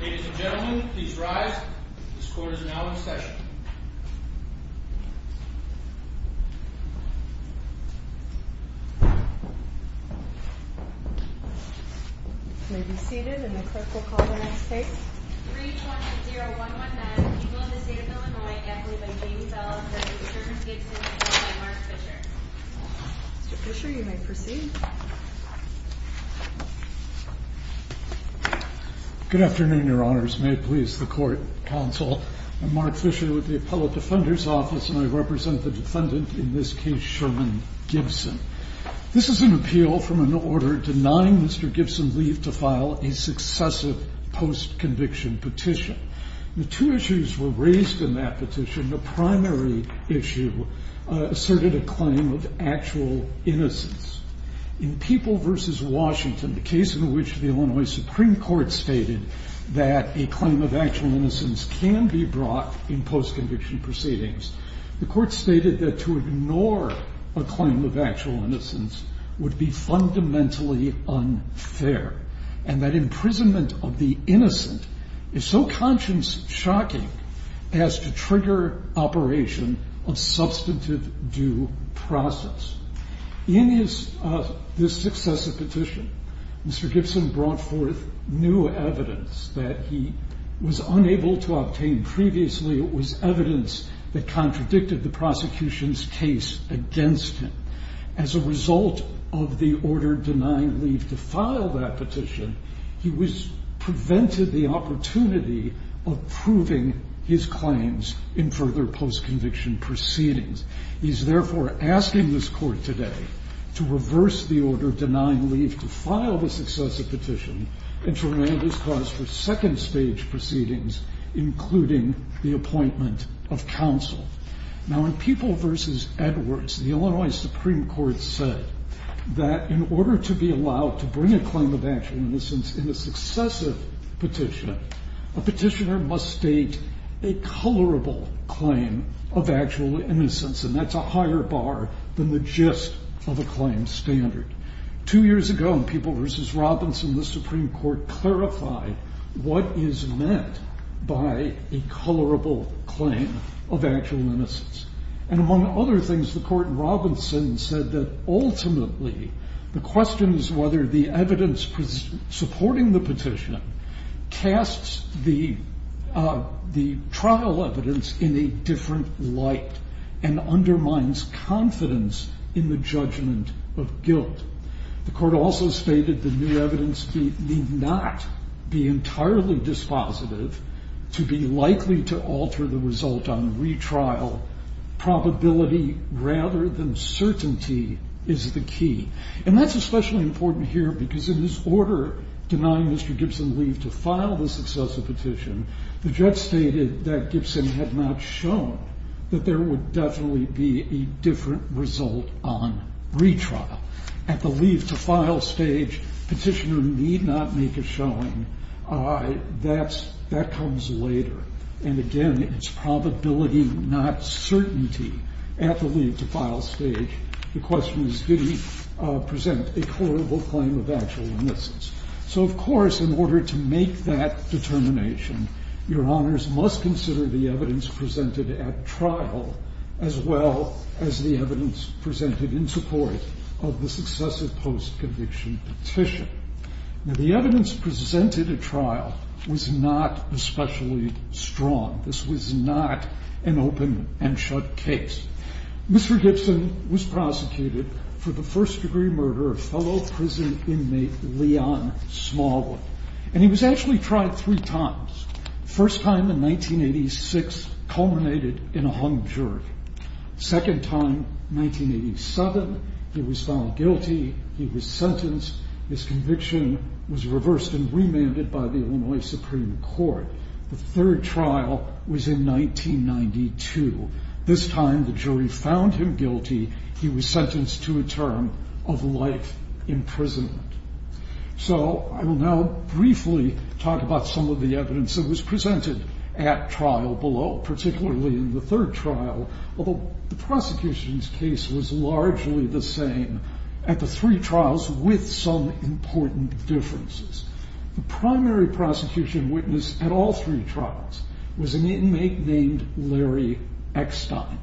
Ladies and gentlemen, please rise. This court is now in session. You may be seated, and the clerk will call the next case. 3-20-0-1-1-9. Equal in the State of Illinois. Amplified by Jamie Bellows v. Gibson v. Mark Fisher. Mr. Fisher, you may proceed. Good afternoon, your honors. May it please the court, counsel. I'm Mark Fisher with the Appellate Defender's Office, and I represent the defendant, in this case, Sherman Gibson. This is an appeal from an order denying Mr. Gibson leave to file a successive post-conviction petition. The two issues were raised in that petition. The primary issue asserted a claim of actual innocence. In People v. Washington, the case in which the Illinois Supreme Court stated that a claim of actual innocence can be brought in post-conviction proceedings, the court stated that to ignore a claim of actual innocence would be fundamentally unfair, and that imprisonment of the innocent is so conscience-shocking as to trigger operation of substantive due process. In this successive petition, Mr. Gibson brought forth new evidence that he was unable to obtain previously. It was evidence that contradicted the prosecution's case against him. As a result of the order denying leave to file that petition, he was prevented the opportunity of proving his claims in further post-conviction proceedings. He is therefore asking this court today to reverse the order denying leave to file the successive petition and to remain at his cause for second-stage proceedings, including the appointment of counsel. Now, in People v. Edwards, the Illinois Supreme Court said that in order to be allowed to bring a claim of actual innocence in a successive petition, a petitioner must state a colorable claim of actual innocence, and that's a higher bar than the gist of a claim standard. Two years ago, in People v. Robinson, the Supreme Court clarified what is meant by a colorable claim of actual innocence. And among other things, the court in Robinson said that ultimately the question is whether the evidence supporting the petition casts the trial evidence in a different light and undermines confidence in the judgment of guilt. The court also stated that new evidence need not be entirely dispositive to be likely to alter the result on retrial. Probability rather than certainty is the key, and that's especially important here because in his order denying Mr. Gibson leave to file the successive petition, the judge stated that Gibson had not shown that there would definitely be a different result on retrial. At the leave to file stage, petitioner need not make a showing. That comes later. And again, it's probability, not certainty. At the leave to file stage, the question is did he present a colorable claim of actual innocence. So, of course, in order to make that determination, your honors must consider the evidence presented at trial as well as the evidence presented in support of the successive post-conviction petition. Now, the evidence presented at trial was not especially strong. This was not an open and shut case. Mr. Gibson was prosecuted for the first-degree murder of fellow prison inmate Leon Smallwood, and he was actually tried three times. First time in 1986 culminated in a hung jury. Second time, 1987, he was found guilty. He was sentenced. His conviction was reversed and remanded by the Illinois Supreme Court. The third trial was in 1992. This time, the jury found him guilty. He was sentenced to a term of life imprisonment. So I will now briefly talk about some of the evidence that was presented at trial below, particularly in the third trial, although the prosecution's case was largely the same at the three trials with some important differences. The primary prosecution witness at all three trials was an inmate named Larry Eckstein.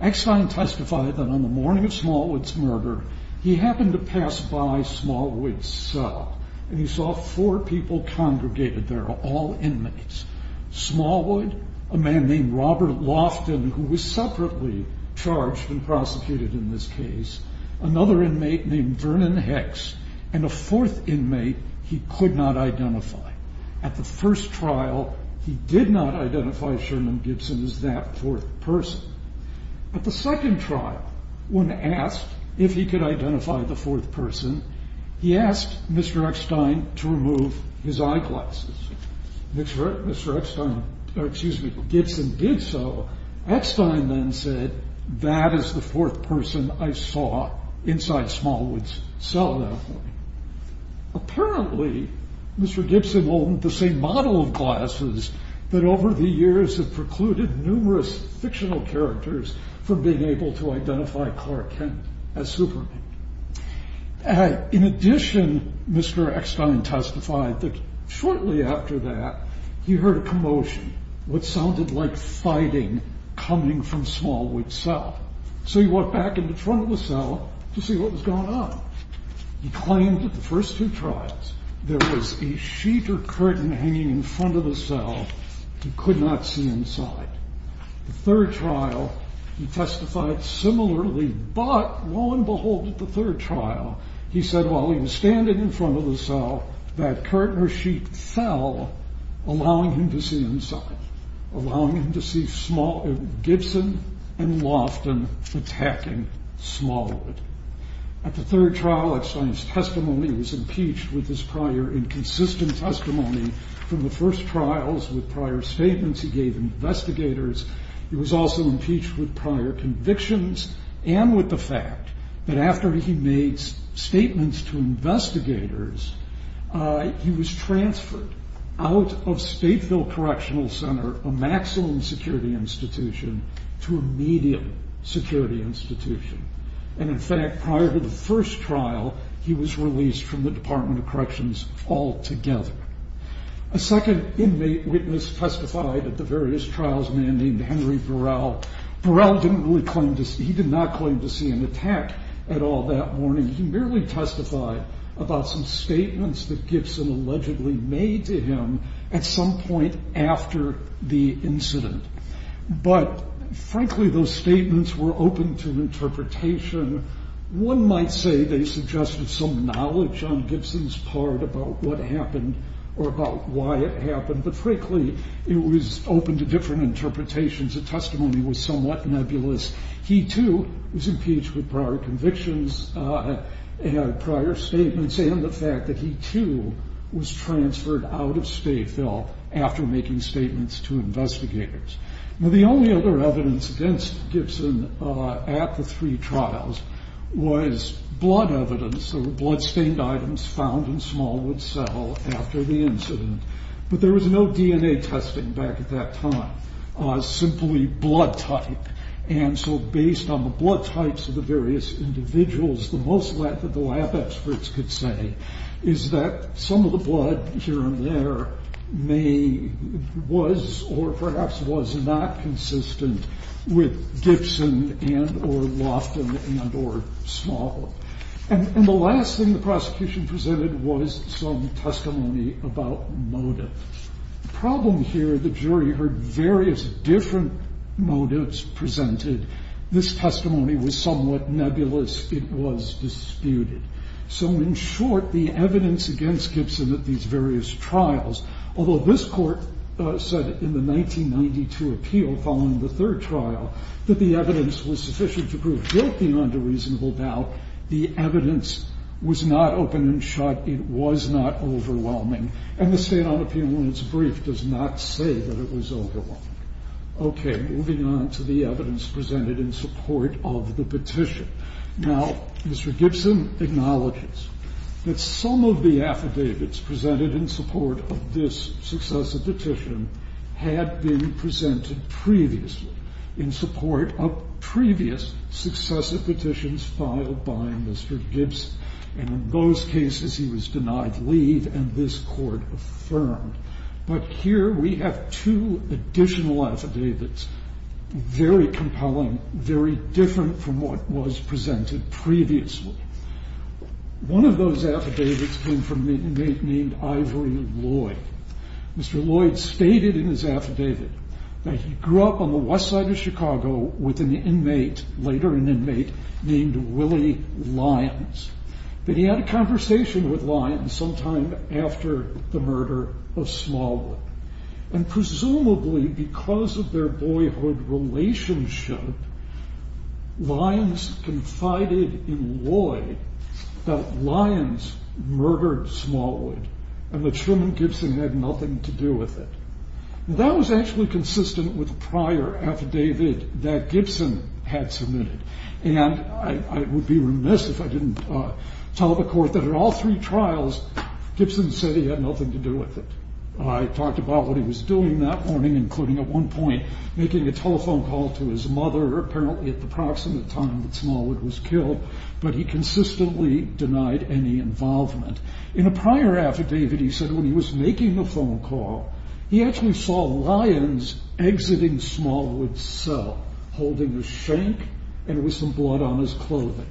Eckstein testified that on the morning of Smallwood's murder, he happened to pass by Smallwood's cell, and he saw four people congregated there, all inmates. Smallwood, a man named Robert Loftin, who was separately charged and prosecuted in this case, another inmate named Vernon Hex, and a fourth inmate he could not identify. At the first trial, he did not identify Sherman Gibson as that fourth person. At the second trial, when asked if he could identify the fourth person, he asked Mr. Eckstein to remove his eyeglasses. Mr. Eckstein, or excuse me, Gibson did so. Eckstein then said, that is the fourth person I saw inside Smallwood's cell that morning. Apparently, Mr. Gibson owned the same model of glasses that over the years have precluded numerous fictional characters from being able to identify Clark Kent as Superman. In addition, Mr. Eckstein testified that shortly after that, he heard a commotion, what sounded like fighting coming from Smallwood's cell. So he walked back into the front of the cell to see what was going on. He claimed that the first two trials, there was a sheet or curtain hanging in front of the cell he could not see inside. The third trial, he testified similarly, but lo and behold, at the third trial, he said while he was standing in front of the cell, that curtain or sheet fell, allowing him to see inside, allowing him to see Gibson and Lofton attacking Smallwood. At the third trial, Eckstein's testimony was impeached with his prior inconsistent testimony. From the first trials, with prior statements he gave investigators, he was also impeached with prior convictions, and with the fact that after he made statements to investigators, he was transferred out of Stateville Correctional Center, a maximum security institution, to a medium security institution. And in fact, prior to the first trial, he was released from the Department of Corrections altogether. A second inmate witness testified at the various trials, a man named Henry Burrell. Burrell did not claim to see an attack at all that morning. He merely testified about some statements that Gibson allegedly made to him at some point after the incident. But frankly, those statements were open to interpretation. One might say they suggested some knowledge on Gibson's part about what happened or about why it happened, but frankly, it was open to different interpretations. The testimony was somewhat nebulous. He, too, was impeached with prior convictions, prior statements, and the fact that he, too, was transferred out of Stateville after making statements to investigators. Now, the only other evidence against Gibson at the three trials was blood evidence. There were blood-stained items found in Smallwood Cell after the incident. But there was no DNA testing back at that time, simply blood type. And so based on the blood types of the various individuals, the most that the lab experts could say is that some of the blood here and there may was or perhaps was not consistent with Gibson and or Loftin and or Smallwood. And the last thing the prosecution presented was some testimony about motive. The problem here, the jury heard various different motives presented. This testimony was somewhat nebulous. It was disputed. So in short, the evidence against Gibson at these various trials, although this court said in the 1992 appeal following the third trial that the evidence was sufficient to prove guilt beyond a reasonable doubt, the evidence was not open and shut. It was not overwhelming. And the stand-on appeal in its brief does not say that it was overwhelming. Okay, moving on to the evidence presented in support of the petition. Now, Mr. Gibson acknowledges that some of the affidavits presented in support of this successive petition had been presented previously, in support of previous successive petitions filed by Mr. Gibson. And in those cases, he was denied leave and this court affirmed. But here we have two additional affidavits, very compelling, very different from what was presented previously. One of those affidavits came from an inmate named Ivory Lloyd. Mr. Lloyd stated in his affidavit that he grew up on the west side of Chicago with an inmate, later an inmate, named Willie Lyons, that he had a conversation with Lyons sometime after the murder of Smallwood. And presumably because of their boyhood relationship, Lyons confided in Lloyd that Lyons murdered Smallwood and that Sherman Gibson had nothing to do with it. That was actually consistent with a prior affidavit that Gibson had submitted. And I would be remiss if I didn't tell the court that in all three trials, Gibson said he had nothing to do with it. I talked about what he was doing that morning, including at one point making a telephone call to his mother, apparently at the proximate time that Smallwood was killed, but he consistently denied any involvement. In a prior affidavit, he said when he was making the phone call, he actually saw Lyons exiting Smallwood's cell, holding a shank and with some blood on his clothing.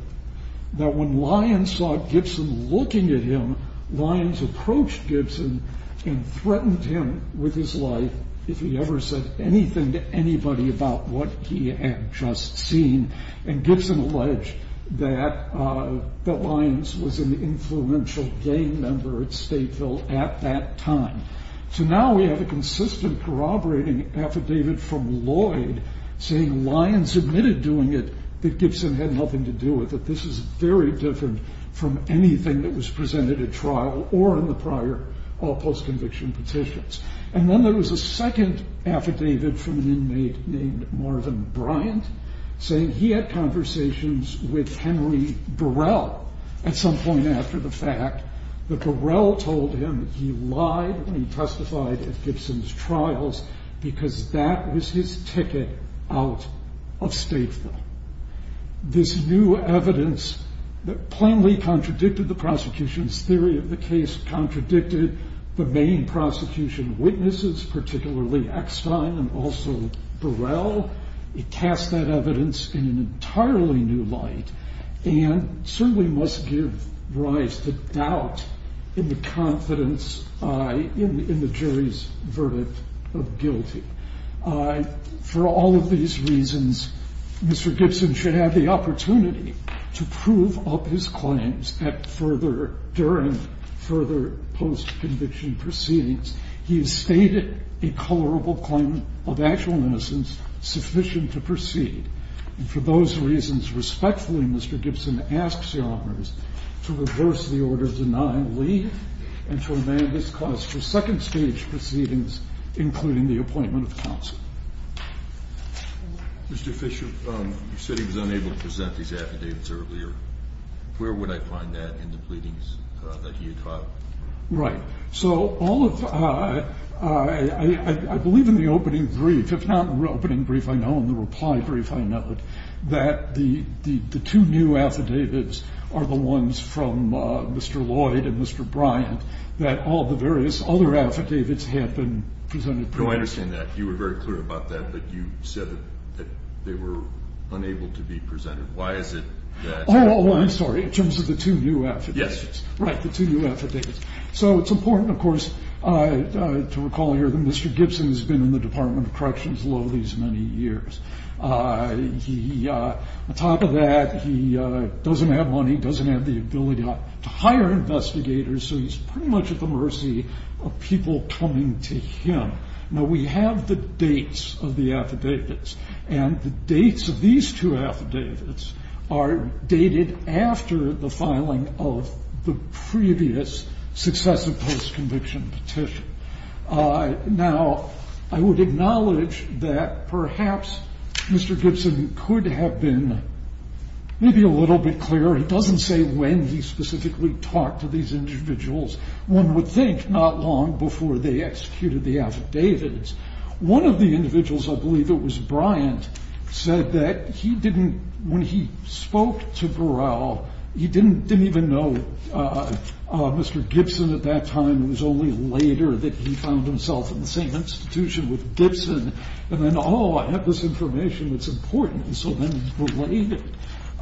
That when Lyons saw Gibson looking at him, Lyons approached Gibson and threatened him with his life if he ever said anything to anybody about what he had just seen. And Gibson alleged that Lyons was an influential gang member at Stateville at that time. So now we have a consistent corroborating affidavit from Lloyd saying Lyons admitted doing it, that Gibson had nothing to do with it. This is very different from anything that was presented at trial or in the prior or post-conviction petitions. And then there was a second affidavit from an inmate named Marvin Bryant, saying he had conversations with Henry Burrell at some point after the fact, that Burrell told him he lied when he testified at Gibson's trials because that was his ticket out of Stateville. This new evidence that plainly contradicted the prosecution's theory of the case, contradicted the main prosecution witnesses, particularly Eckstein and also Burrell. It cast that evidence in an entirely new light and certainly must give rise to doubt in the confidence in the jury's verdict of guilty. For all of these reasons, Mr. Gibson should have the opportunity to prove up his claims at further – during further post-conviction proceedings. He has stated a colorable claim of actual innocence sufficient to proceed. And for those reasons, respectfully, Mr. Gibson asks Your Honors to reverse the order denying leave and to amend his clause to second-stage proceedings, including the appointment of counsel. Mr. Fisher, you said he was unable to present these affidavits earlier. Where would I find that in the pleadings that he had filed? Right. So all of – I believe in the opening brief, if not the opening brief, I know in the reply brief, I know it, that the two new affidavits are the ones from Mr. Lloyd and Mr. Bryant, that all the various other affidavits had been presented previously. No, I understand that. You were very clear about that, but you said that they were unable to be presented. Why is it that – Oh, I'm sorry. In terms of the two new affidavits. Yes. Right, the two new affidavits. So it's important, of course, to recall here that Mr. Gibson has been in the Department of Corrections low these many years. He – on top of that, he doesn't have money, doesn't have the ability to hire investigators, so he's pretty much at the mercy of people coming to him. Now, we have the dates of the affidavits, and the dates of these two affidavits are dated after the filing of the previous successive post-conviction petition. Now, I would acknowledge that perhaps Mr. Gibson could have been maybe a little bit clearer. It doesn't say when he specifically talked to these individuals. One would think not long before they executed the affidavits. One of the individuals, I believe it was Bryant, said that he didn't – when he spoke to Burrell, he didn't even know Mr. Gibson at that time. It was only later that he found himself in the same institution with Gibson, and then, oh, I have this information that's important. And so then it was delayed.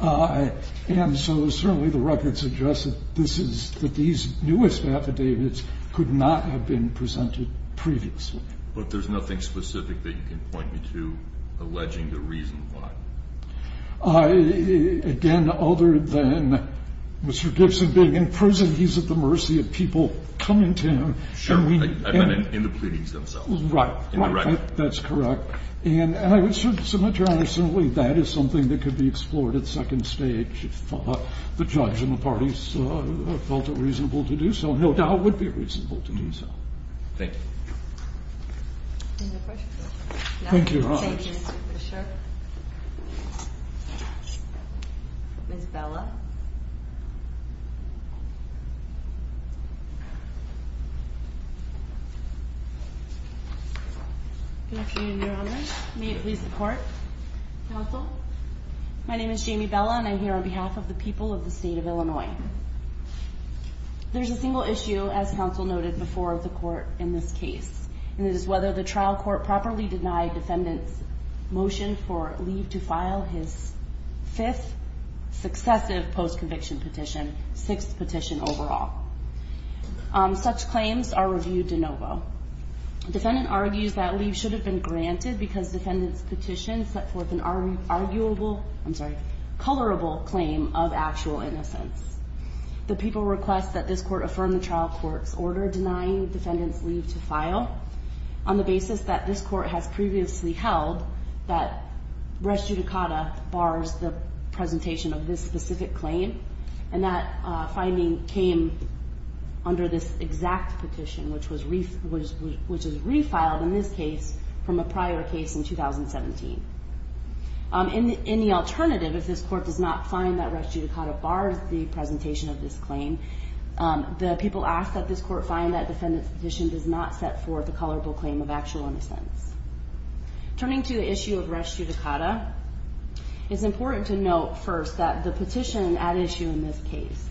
And so certainly the record suggests that this is – that these newest affidavits could not have been presented previously. But there's nothing specific that you can point me to alleging the reason why? Again, other than Mr. Gibson being in prison, he's at the mercy of people coming to him. Sure. In the pleadings themselves. Right, right. In the record. That's correct. And I would submit to Your Honor simply that is something that could be explored at second stage if the judge and the parties felt it reasonable to do so, and no doubt would be reasonable to do so. Thank you. Any other questions? No. Thank you, Your Honor. Thank you, Mr. Fisher. Ms. Bella. Good afternoon, Your Honor. May it please the Court. Counsel. My name is Jamie Bella, and I'm here on behalf of the people of the state of Illinois. There's a single issue, as counsel noted before the Court in this case, and it is whether the trial court properly denied defendant's motion for leave to file his fifth successive post-conviction petition, sixth petition overall. Such claims are reviewed de novo. Defendant argues that leave should have been granted because defendant's petition set forth an arguable, I'm sorry, colorable claim of actual innocence. The people request that this Court affirm the trial court's order denying defendant's leave to file on the basis that this Court has previously held that res judicata bars the presentation of this specific claim, and that finding came under this exact petition, which was refiled in this case from a prior case in 2017. In the alternative, if this Court does not find that res judicata bars the presentation of this claim, the people ask that this Court find that defendant's petition does not set forth a colorable claim of actual innocence. Turning to the issue of res judicata, it's important to note first that the petition at issue in this case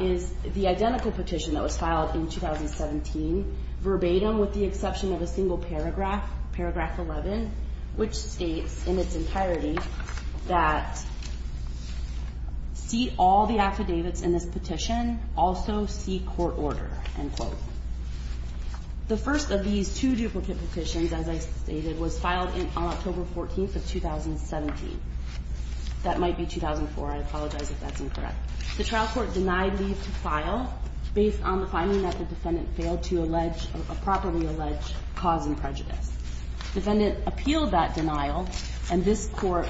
is the identical petition that was filed in 2017, verbatim with the exception of a single paragraph, paragraph 11, which states in its entirety that see all the affidavits in this petition, also see court order, end quote. The first of these two duplicate petitions, as I stated, was filed on October 14th of 2017. That might be 2004. I apologize if that's incorrect. The trial court denied leave to file based on the finding that the defendant failed to allege a properly alleged cause in prejudice. Defendant appealed that denial, and this Court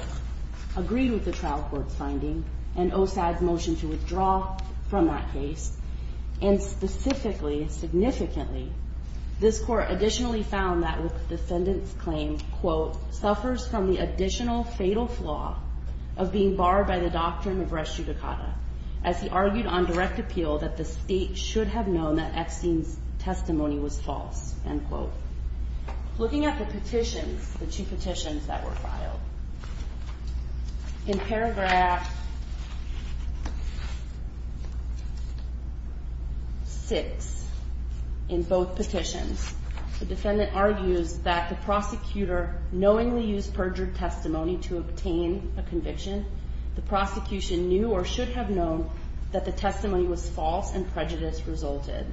agreed with the trial court's finding and OSAD's motion to withdraw from that case. And specifically, significantly, this Court additionally found that the defendant's claim, quote, suffers from the additional fatal flaw of being barred by the doctrine of res judicata, as he argued on direct appeal that the State should have known that Epstein's testimony was false, end quote. Looking at the petitions, the two petitions that were filed, in paragraph 6, in both petitions, the defendant argues that the prosecutor knowingly used perjured testimony to obtain a conviction. The prosecution knew or should have known that the testimony was false and prejudice resulted.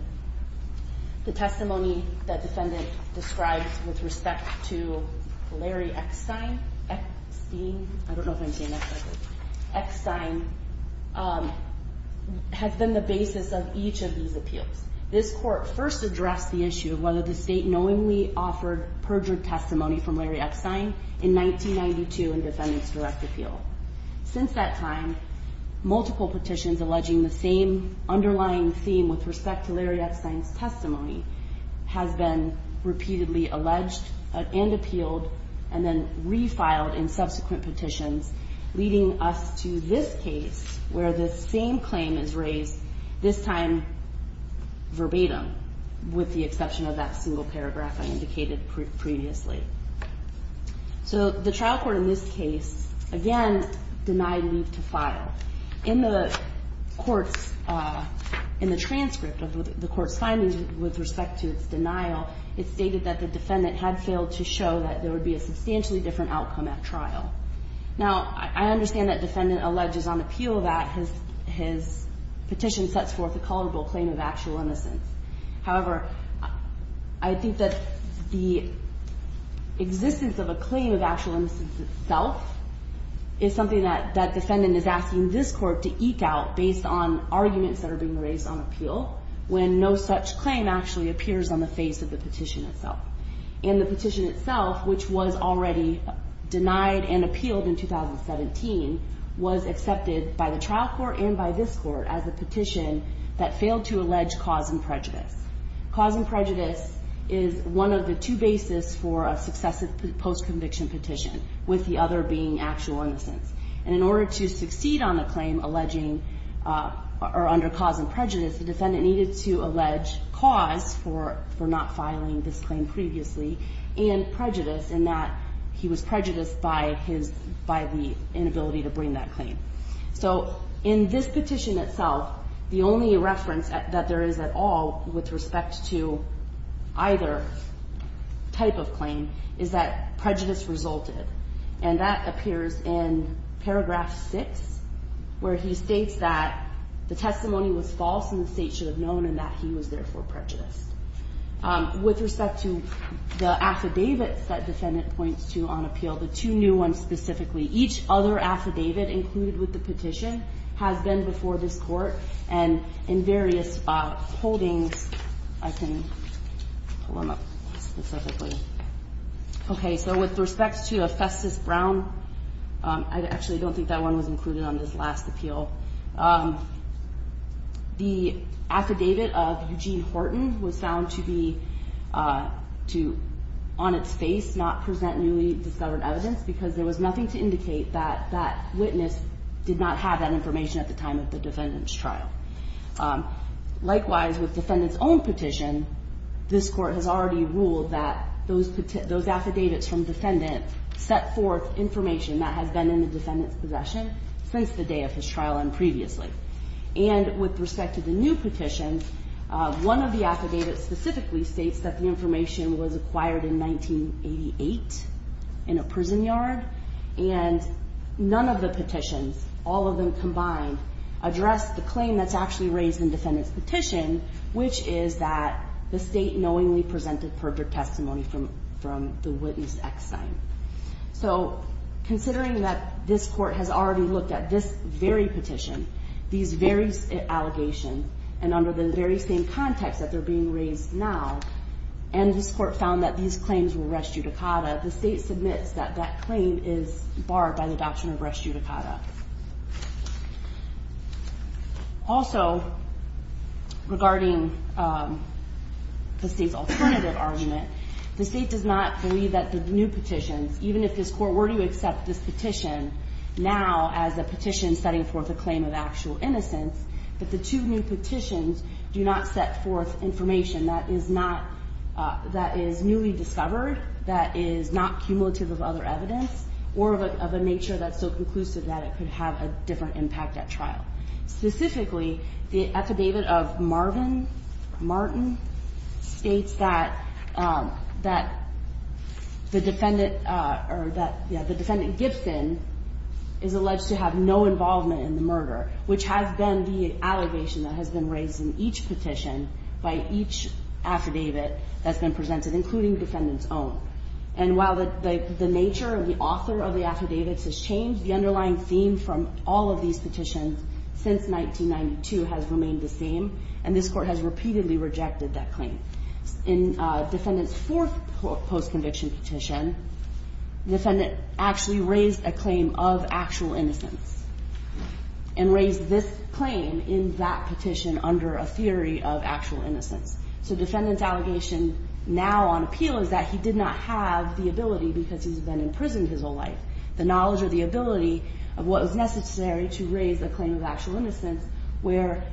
The testimony that defendant describes with respect to Larry Epstein, I don't know if I'm saying that correctly, Epstein has been the basis of each of these appeals. This Court first addressed the issue of whether the State knowingly offered perjured testimony from Larry Epstein in 1992 in defendant's direct appeal. Since that time, multiple petitions alleging the same underlying theme with respect to Larry Epstein's testimony has been repeatedly alleged and appealed and then refiled in subsequent petitions, leading us to this case where the same claim is raised, this time verbatim, with the exception of that single paragraph I indicated previously. So the trial court in this case, again, denied leave to file. In the court's – in the transcript of the court's findings with respect to its denial, it stated that the defendant had failed to show that there would be a substantially different outcome at trial. Now, I understand that defendant alleges on appeal that his petition sets forth a culpable claim of actual innocence. However, I think that the existence of a claim of actual innocence itself is something that defendant is asking this Court to eke out based on arguments that are being raised on appeal when no such claim actually appears on the face of the petition itself. And the petition itself, which was already denied and appealed in 2017, was accepted by the trial court and by this Court as a petition that failed to allege cause and prejudice. Cause and prejudice is one of the two bases for a successive post-conviction petition, with the other being actual innocence. And in order to succeed on the claim alleging – or under cause and prejudice, the defendant needed to allege cause for not filing this claim previously, and prejudice in that he was prejudiced by the inability to bring that claim. So in this petition itself, the only reference that there is at all with respect to either type of claim is that prejudice resulted. And that appears in paragraph 6, where he states that the testimony was false and the State should have known and that he was therefore prejudiced. With respect to the affidavits that defendant points to on appeal, the two new ones specifically, each other affidavit included with the petition has been before this Court, and in various holdings I can pull them up specifically. Okay, so with respect to a Festus Brown – I actually don't think that one was included on this last appeal. The affidavit of Eugene Horton was found to be – to, on its face, not present newly discovered evidence because there was nothing to indicate that that witness did not have that information at the time of the defendant's trial. Likewise, with defendant's own petition, this Court has already ruled that those affidavits from defendant set forth information that has been in the defendant's possession since the day of his trial and previously. And with respect to the new petition, one of the affidavits specifically states that the information was acquired in 1988 in a prison yard, and none of the petitions, all of them combined, address the claim that's actually raised in defendant's petition, which is that the State knowingly presented perjured testimony from the witness ex-sign. So considering that this Court has already looked at this very petition, these very allegations, and under the very same context that they're being raised now, and this Court found that these claims were res judicata, the State submits that that claim is barred by the doctrine of res judicata. Also, regarding the State's alternative argument, the State does not believe that the new petitions, even if this Court were to accept this petition now as a petition setting forth a claim of actual innocence, that the two new petitions do not set forth information that is not, that is newly discovered, that is not cumulative of other evidence, or of a nature that's so conclusive that it could have a different impact at trial. Specifically, the affidavit of Marvin Martin states that the defendant, or that, yeah, the defendant Gibson is alleged to have no involvement in the murder, which has been the allegation that has been raised in each petition by each affidavit that's been presented, including the defendant's own. And while the nature of the author of the affidavits has changed, the underlying theme from all of these petitions since 1992 has remained the same, and this Court has repeatedly rejected that claim. In defendant's fourth post-conviction petition, the defendant actually raised a claim of actual innocence, and raised this claim in that petition under a theory of actual innocence. So defendant's allegation now on appeal is that he did not have the ability because he's been in prison his whole life, the knowledge or the ability of what was necessary to raise a claim of actual innocence, where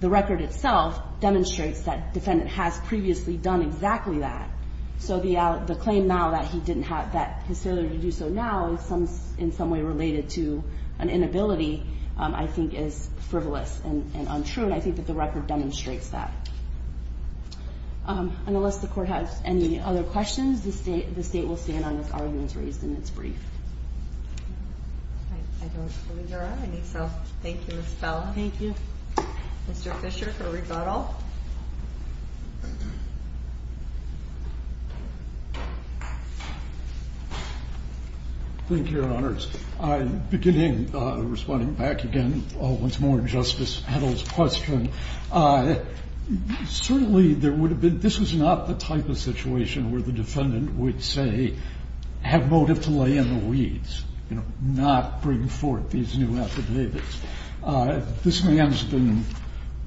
the record itself demonstrates that defendant has previously done exactly that. So the claim now that he didn't have that facility to do so now is in some way related to an inability I think is frivolous and untrue, and I think that the record demonstrates that. And unless the Court has any other questions, the State will stand on its arguments raised in its brief. I don't believe there are any, so thank you, Ms. Bell. Thank you. Mr. Fisher for rebuttal. Thank you, Your Honors. Beginning, responding back again once more to Justice Petal's question, certainly there would have been, this was not the type of situation where the defendant would say, have motive to lay in the weeds, you know, not bring forth these new affidavits. This man's been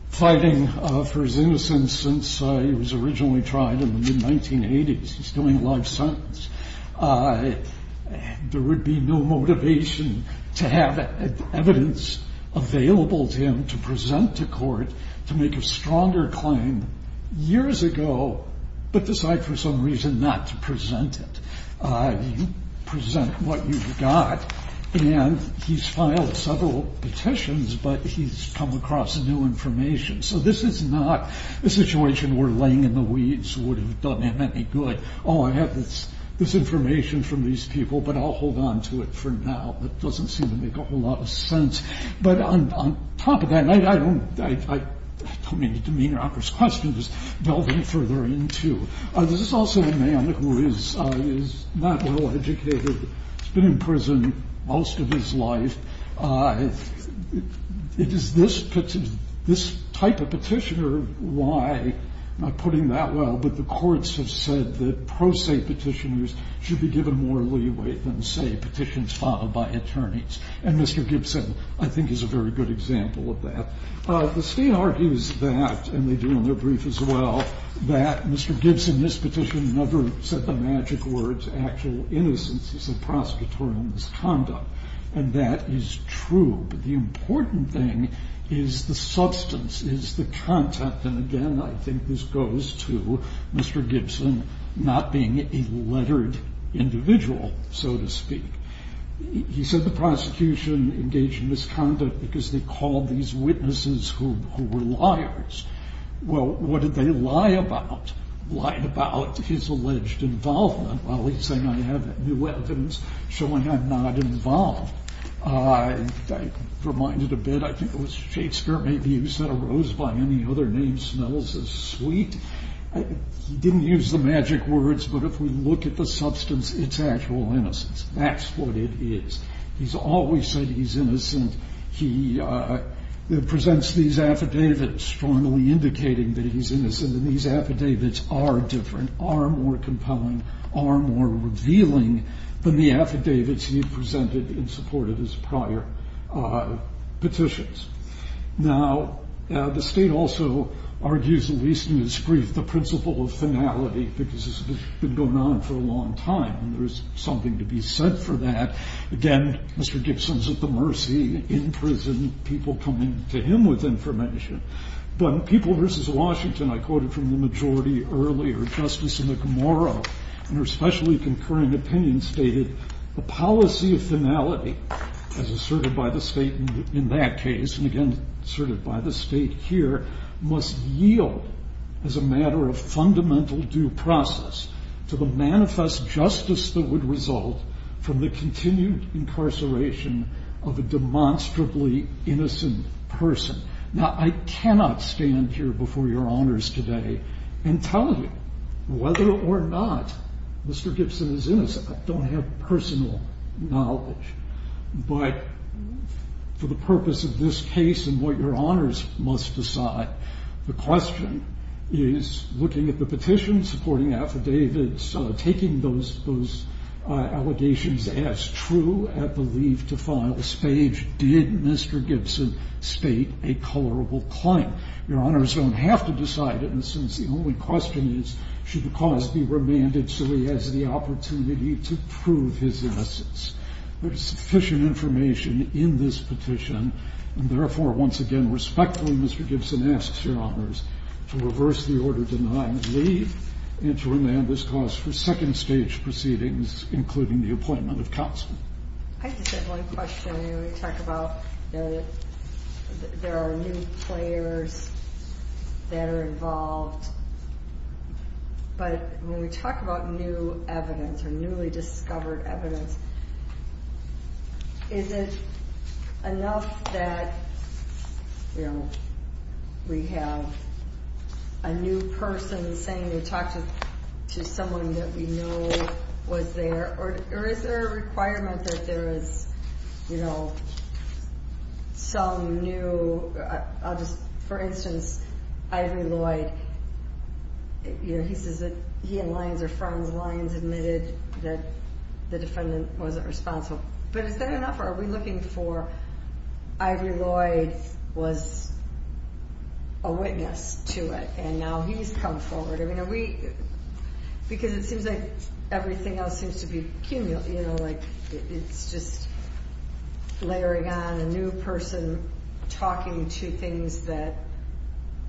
fighting for his innocence since he was originally tried in the mid-1980s. He's still in life sentence. There would be no motivation to have evidence available to him to present to court to make a stronger claim years ago, but decide for some reason not to present it. You present what you've got, and he's filed several petitions, but he's come across new information. So this is not a situation where laying in the weeds would have done him any good. Oh, I have this information from these people, but I'll hold on to it for now. That doesn't seem to make a whole lot of sense. But on top of that, I don't mean to demeanor out this question, just delve in further into, this is also a man who is not well educated. He's been in prison most of his life. It is this type of petitioner why, not putting that well, but the courts have said that pro se petitioners should be given more leeway than, say, petitions followed by attorneys. And Mr. Gibson, I think, is a very good example of that. The state argues that, and they do in their brief as well, that Mr. Gibson, this petitioner, never said the magic words, actual innocence is a prosecutorial misconduct. And that is true. But the important thing is the substance, is the content. And again, I think this goes to Mr. Gibson not being a lettered individual, so to speak. He said the prosecution engaged in misconduct because they called these witnesses who were liars. Well, what did they lie about? Lied about his alleged involvement. Well, he's saying I have new evidence showing I'm not involved. I'm reminded a bit, I think it was Shakespeare, maybe he said a rose by any other name smells as sweet. He didn't use the magic words, but if we look at the substance, it's actual innocence. That's what it is. He's always said he's innocent. He presents these affidavits strongly indicating that he's innocent. And these affidavits are different, are more compelling, are more revealing than the affidavits he presented in support of his prior petitions. Now, the state also argues, at least in its brief, the principle of finality, because this has been going on for a long time. And there is something to be said for that. Again, Mr. Gibson's at the mercy in prison, people coming to him with information. But People v. Washington, I quoted from the majority earlier, Justice McMorrow in her specially concurring opinion stated, the policy of finality, as asserted by the state in that case, and again asserted by the state here, must yield as a matter of fundamental due process to the manifest justice that would result from the continued incarceration of a demonstrably innocent person. Now, I cannot stand here before your honors today and tell you whether or not Mr. Gibson is innocent. I don't have personal knowledge. But for the purpose of this case and what your honors must decide, the question is, looking at the petition, supporting affidavits, taking those allegations as true at the leave to file stage, did Mr. Gibson state a colorable claim? Your honors don't have to decide it, in a sense. The only question is, should the cause be remanded so he has the opportunity to prove his innocence? There is sufficient information in this petition. And therefore, once again, respectfully, Mr. Gibson asks your honors to reverse the order denying leave and to remand this cause for second-stage proceedings, including the appointment of counsel. I just have one question. We talk about there are new players that are involved. But when we talk about new evidence or newly discovered evidence, is it enough that we have a new person saying they talked to someone that we know was there? Or is there a requirement that there is some new – for instance, Ivory Lloyd, he says that he and Lyons are friends. Lyons admitted that the defendant wasn't responsible. But is that enough, or are we looking for Ivory Lloyd was a witness to it and now he's come forward? Because it seems like everything else seems to be cumulative, like it's just layering on a new person talking to things that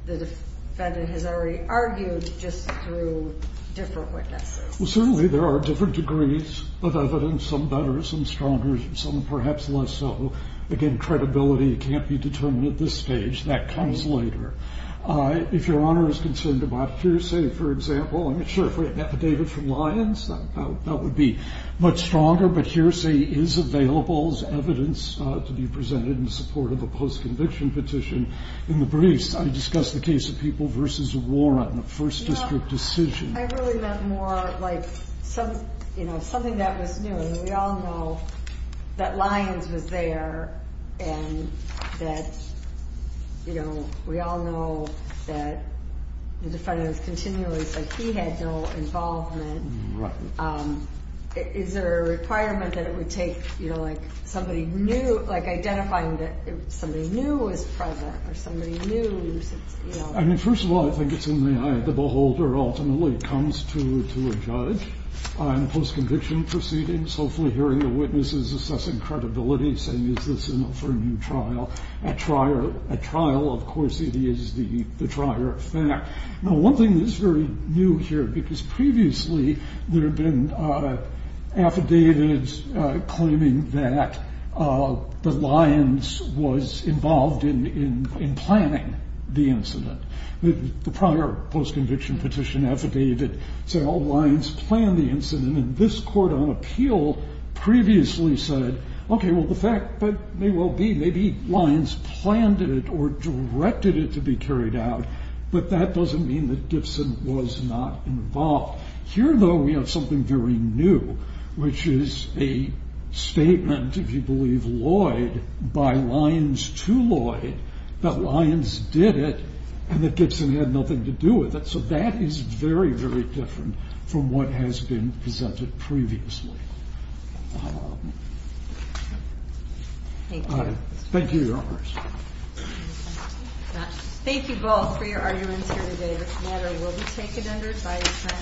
the defendant has already argued just through different witnesses. Well, certainly there are different degrees of evidence, some better, some stronger, some perhaps less so. Again, credibility can't be determined at this stage. That comes later. If Your Honor is concerned about hearsay, for example, I mean, sure, if we had an affidavit from Lyons, that would be much stronger. But hearsay is available as evidence to be presented in support of a post-conviction petition. In the briefs, I discussed the case of People v. Warren, the first district decision. I really meant more like something that was new. I mean, we all know that Lyons was there and that, you know, we all know that the defendant continually said he had no involvement. Right. Is there a requirement that it would take, you know, like somebody knew, like identifying that somebody knew was present or somebody knew, you know. I mean, first of all, I think it's in the eye of the beholder ultimately when it comes to a judge on post-conviction proceedings, hopefully hearing the witnesses, assessing credibility, saying is this enough for a new trial. At trial, of course, it is the trier of fact. Now, one thing that's very new here, because previously there had been affidavits claiming that Lyons was involved in planning the incident. The prior post-conviction petition affidavit said, oh, Lyons planned the incident, and this court on appeal previously said, okay, well, the fact may well be maybe Lyons planned it or directed it to be carried out, but that doesn't mean that Gibson was not involved. Here, though, we have something very new, which is a statement, if you believe Lloyd, by Lyons to Lloyd that Lyons did it and that Gibson had nothing to do with it. So that is very, very different from what has been presented previously. Thank you. Thank you, Your Honors. Thank you both for your arguments here today. This matter will be taken under advisement,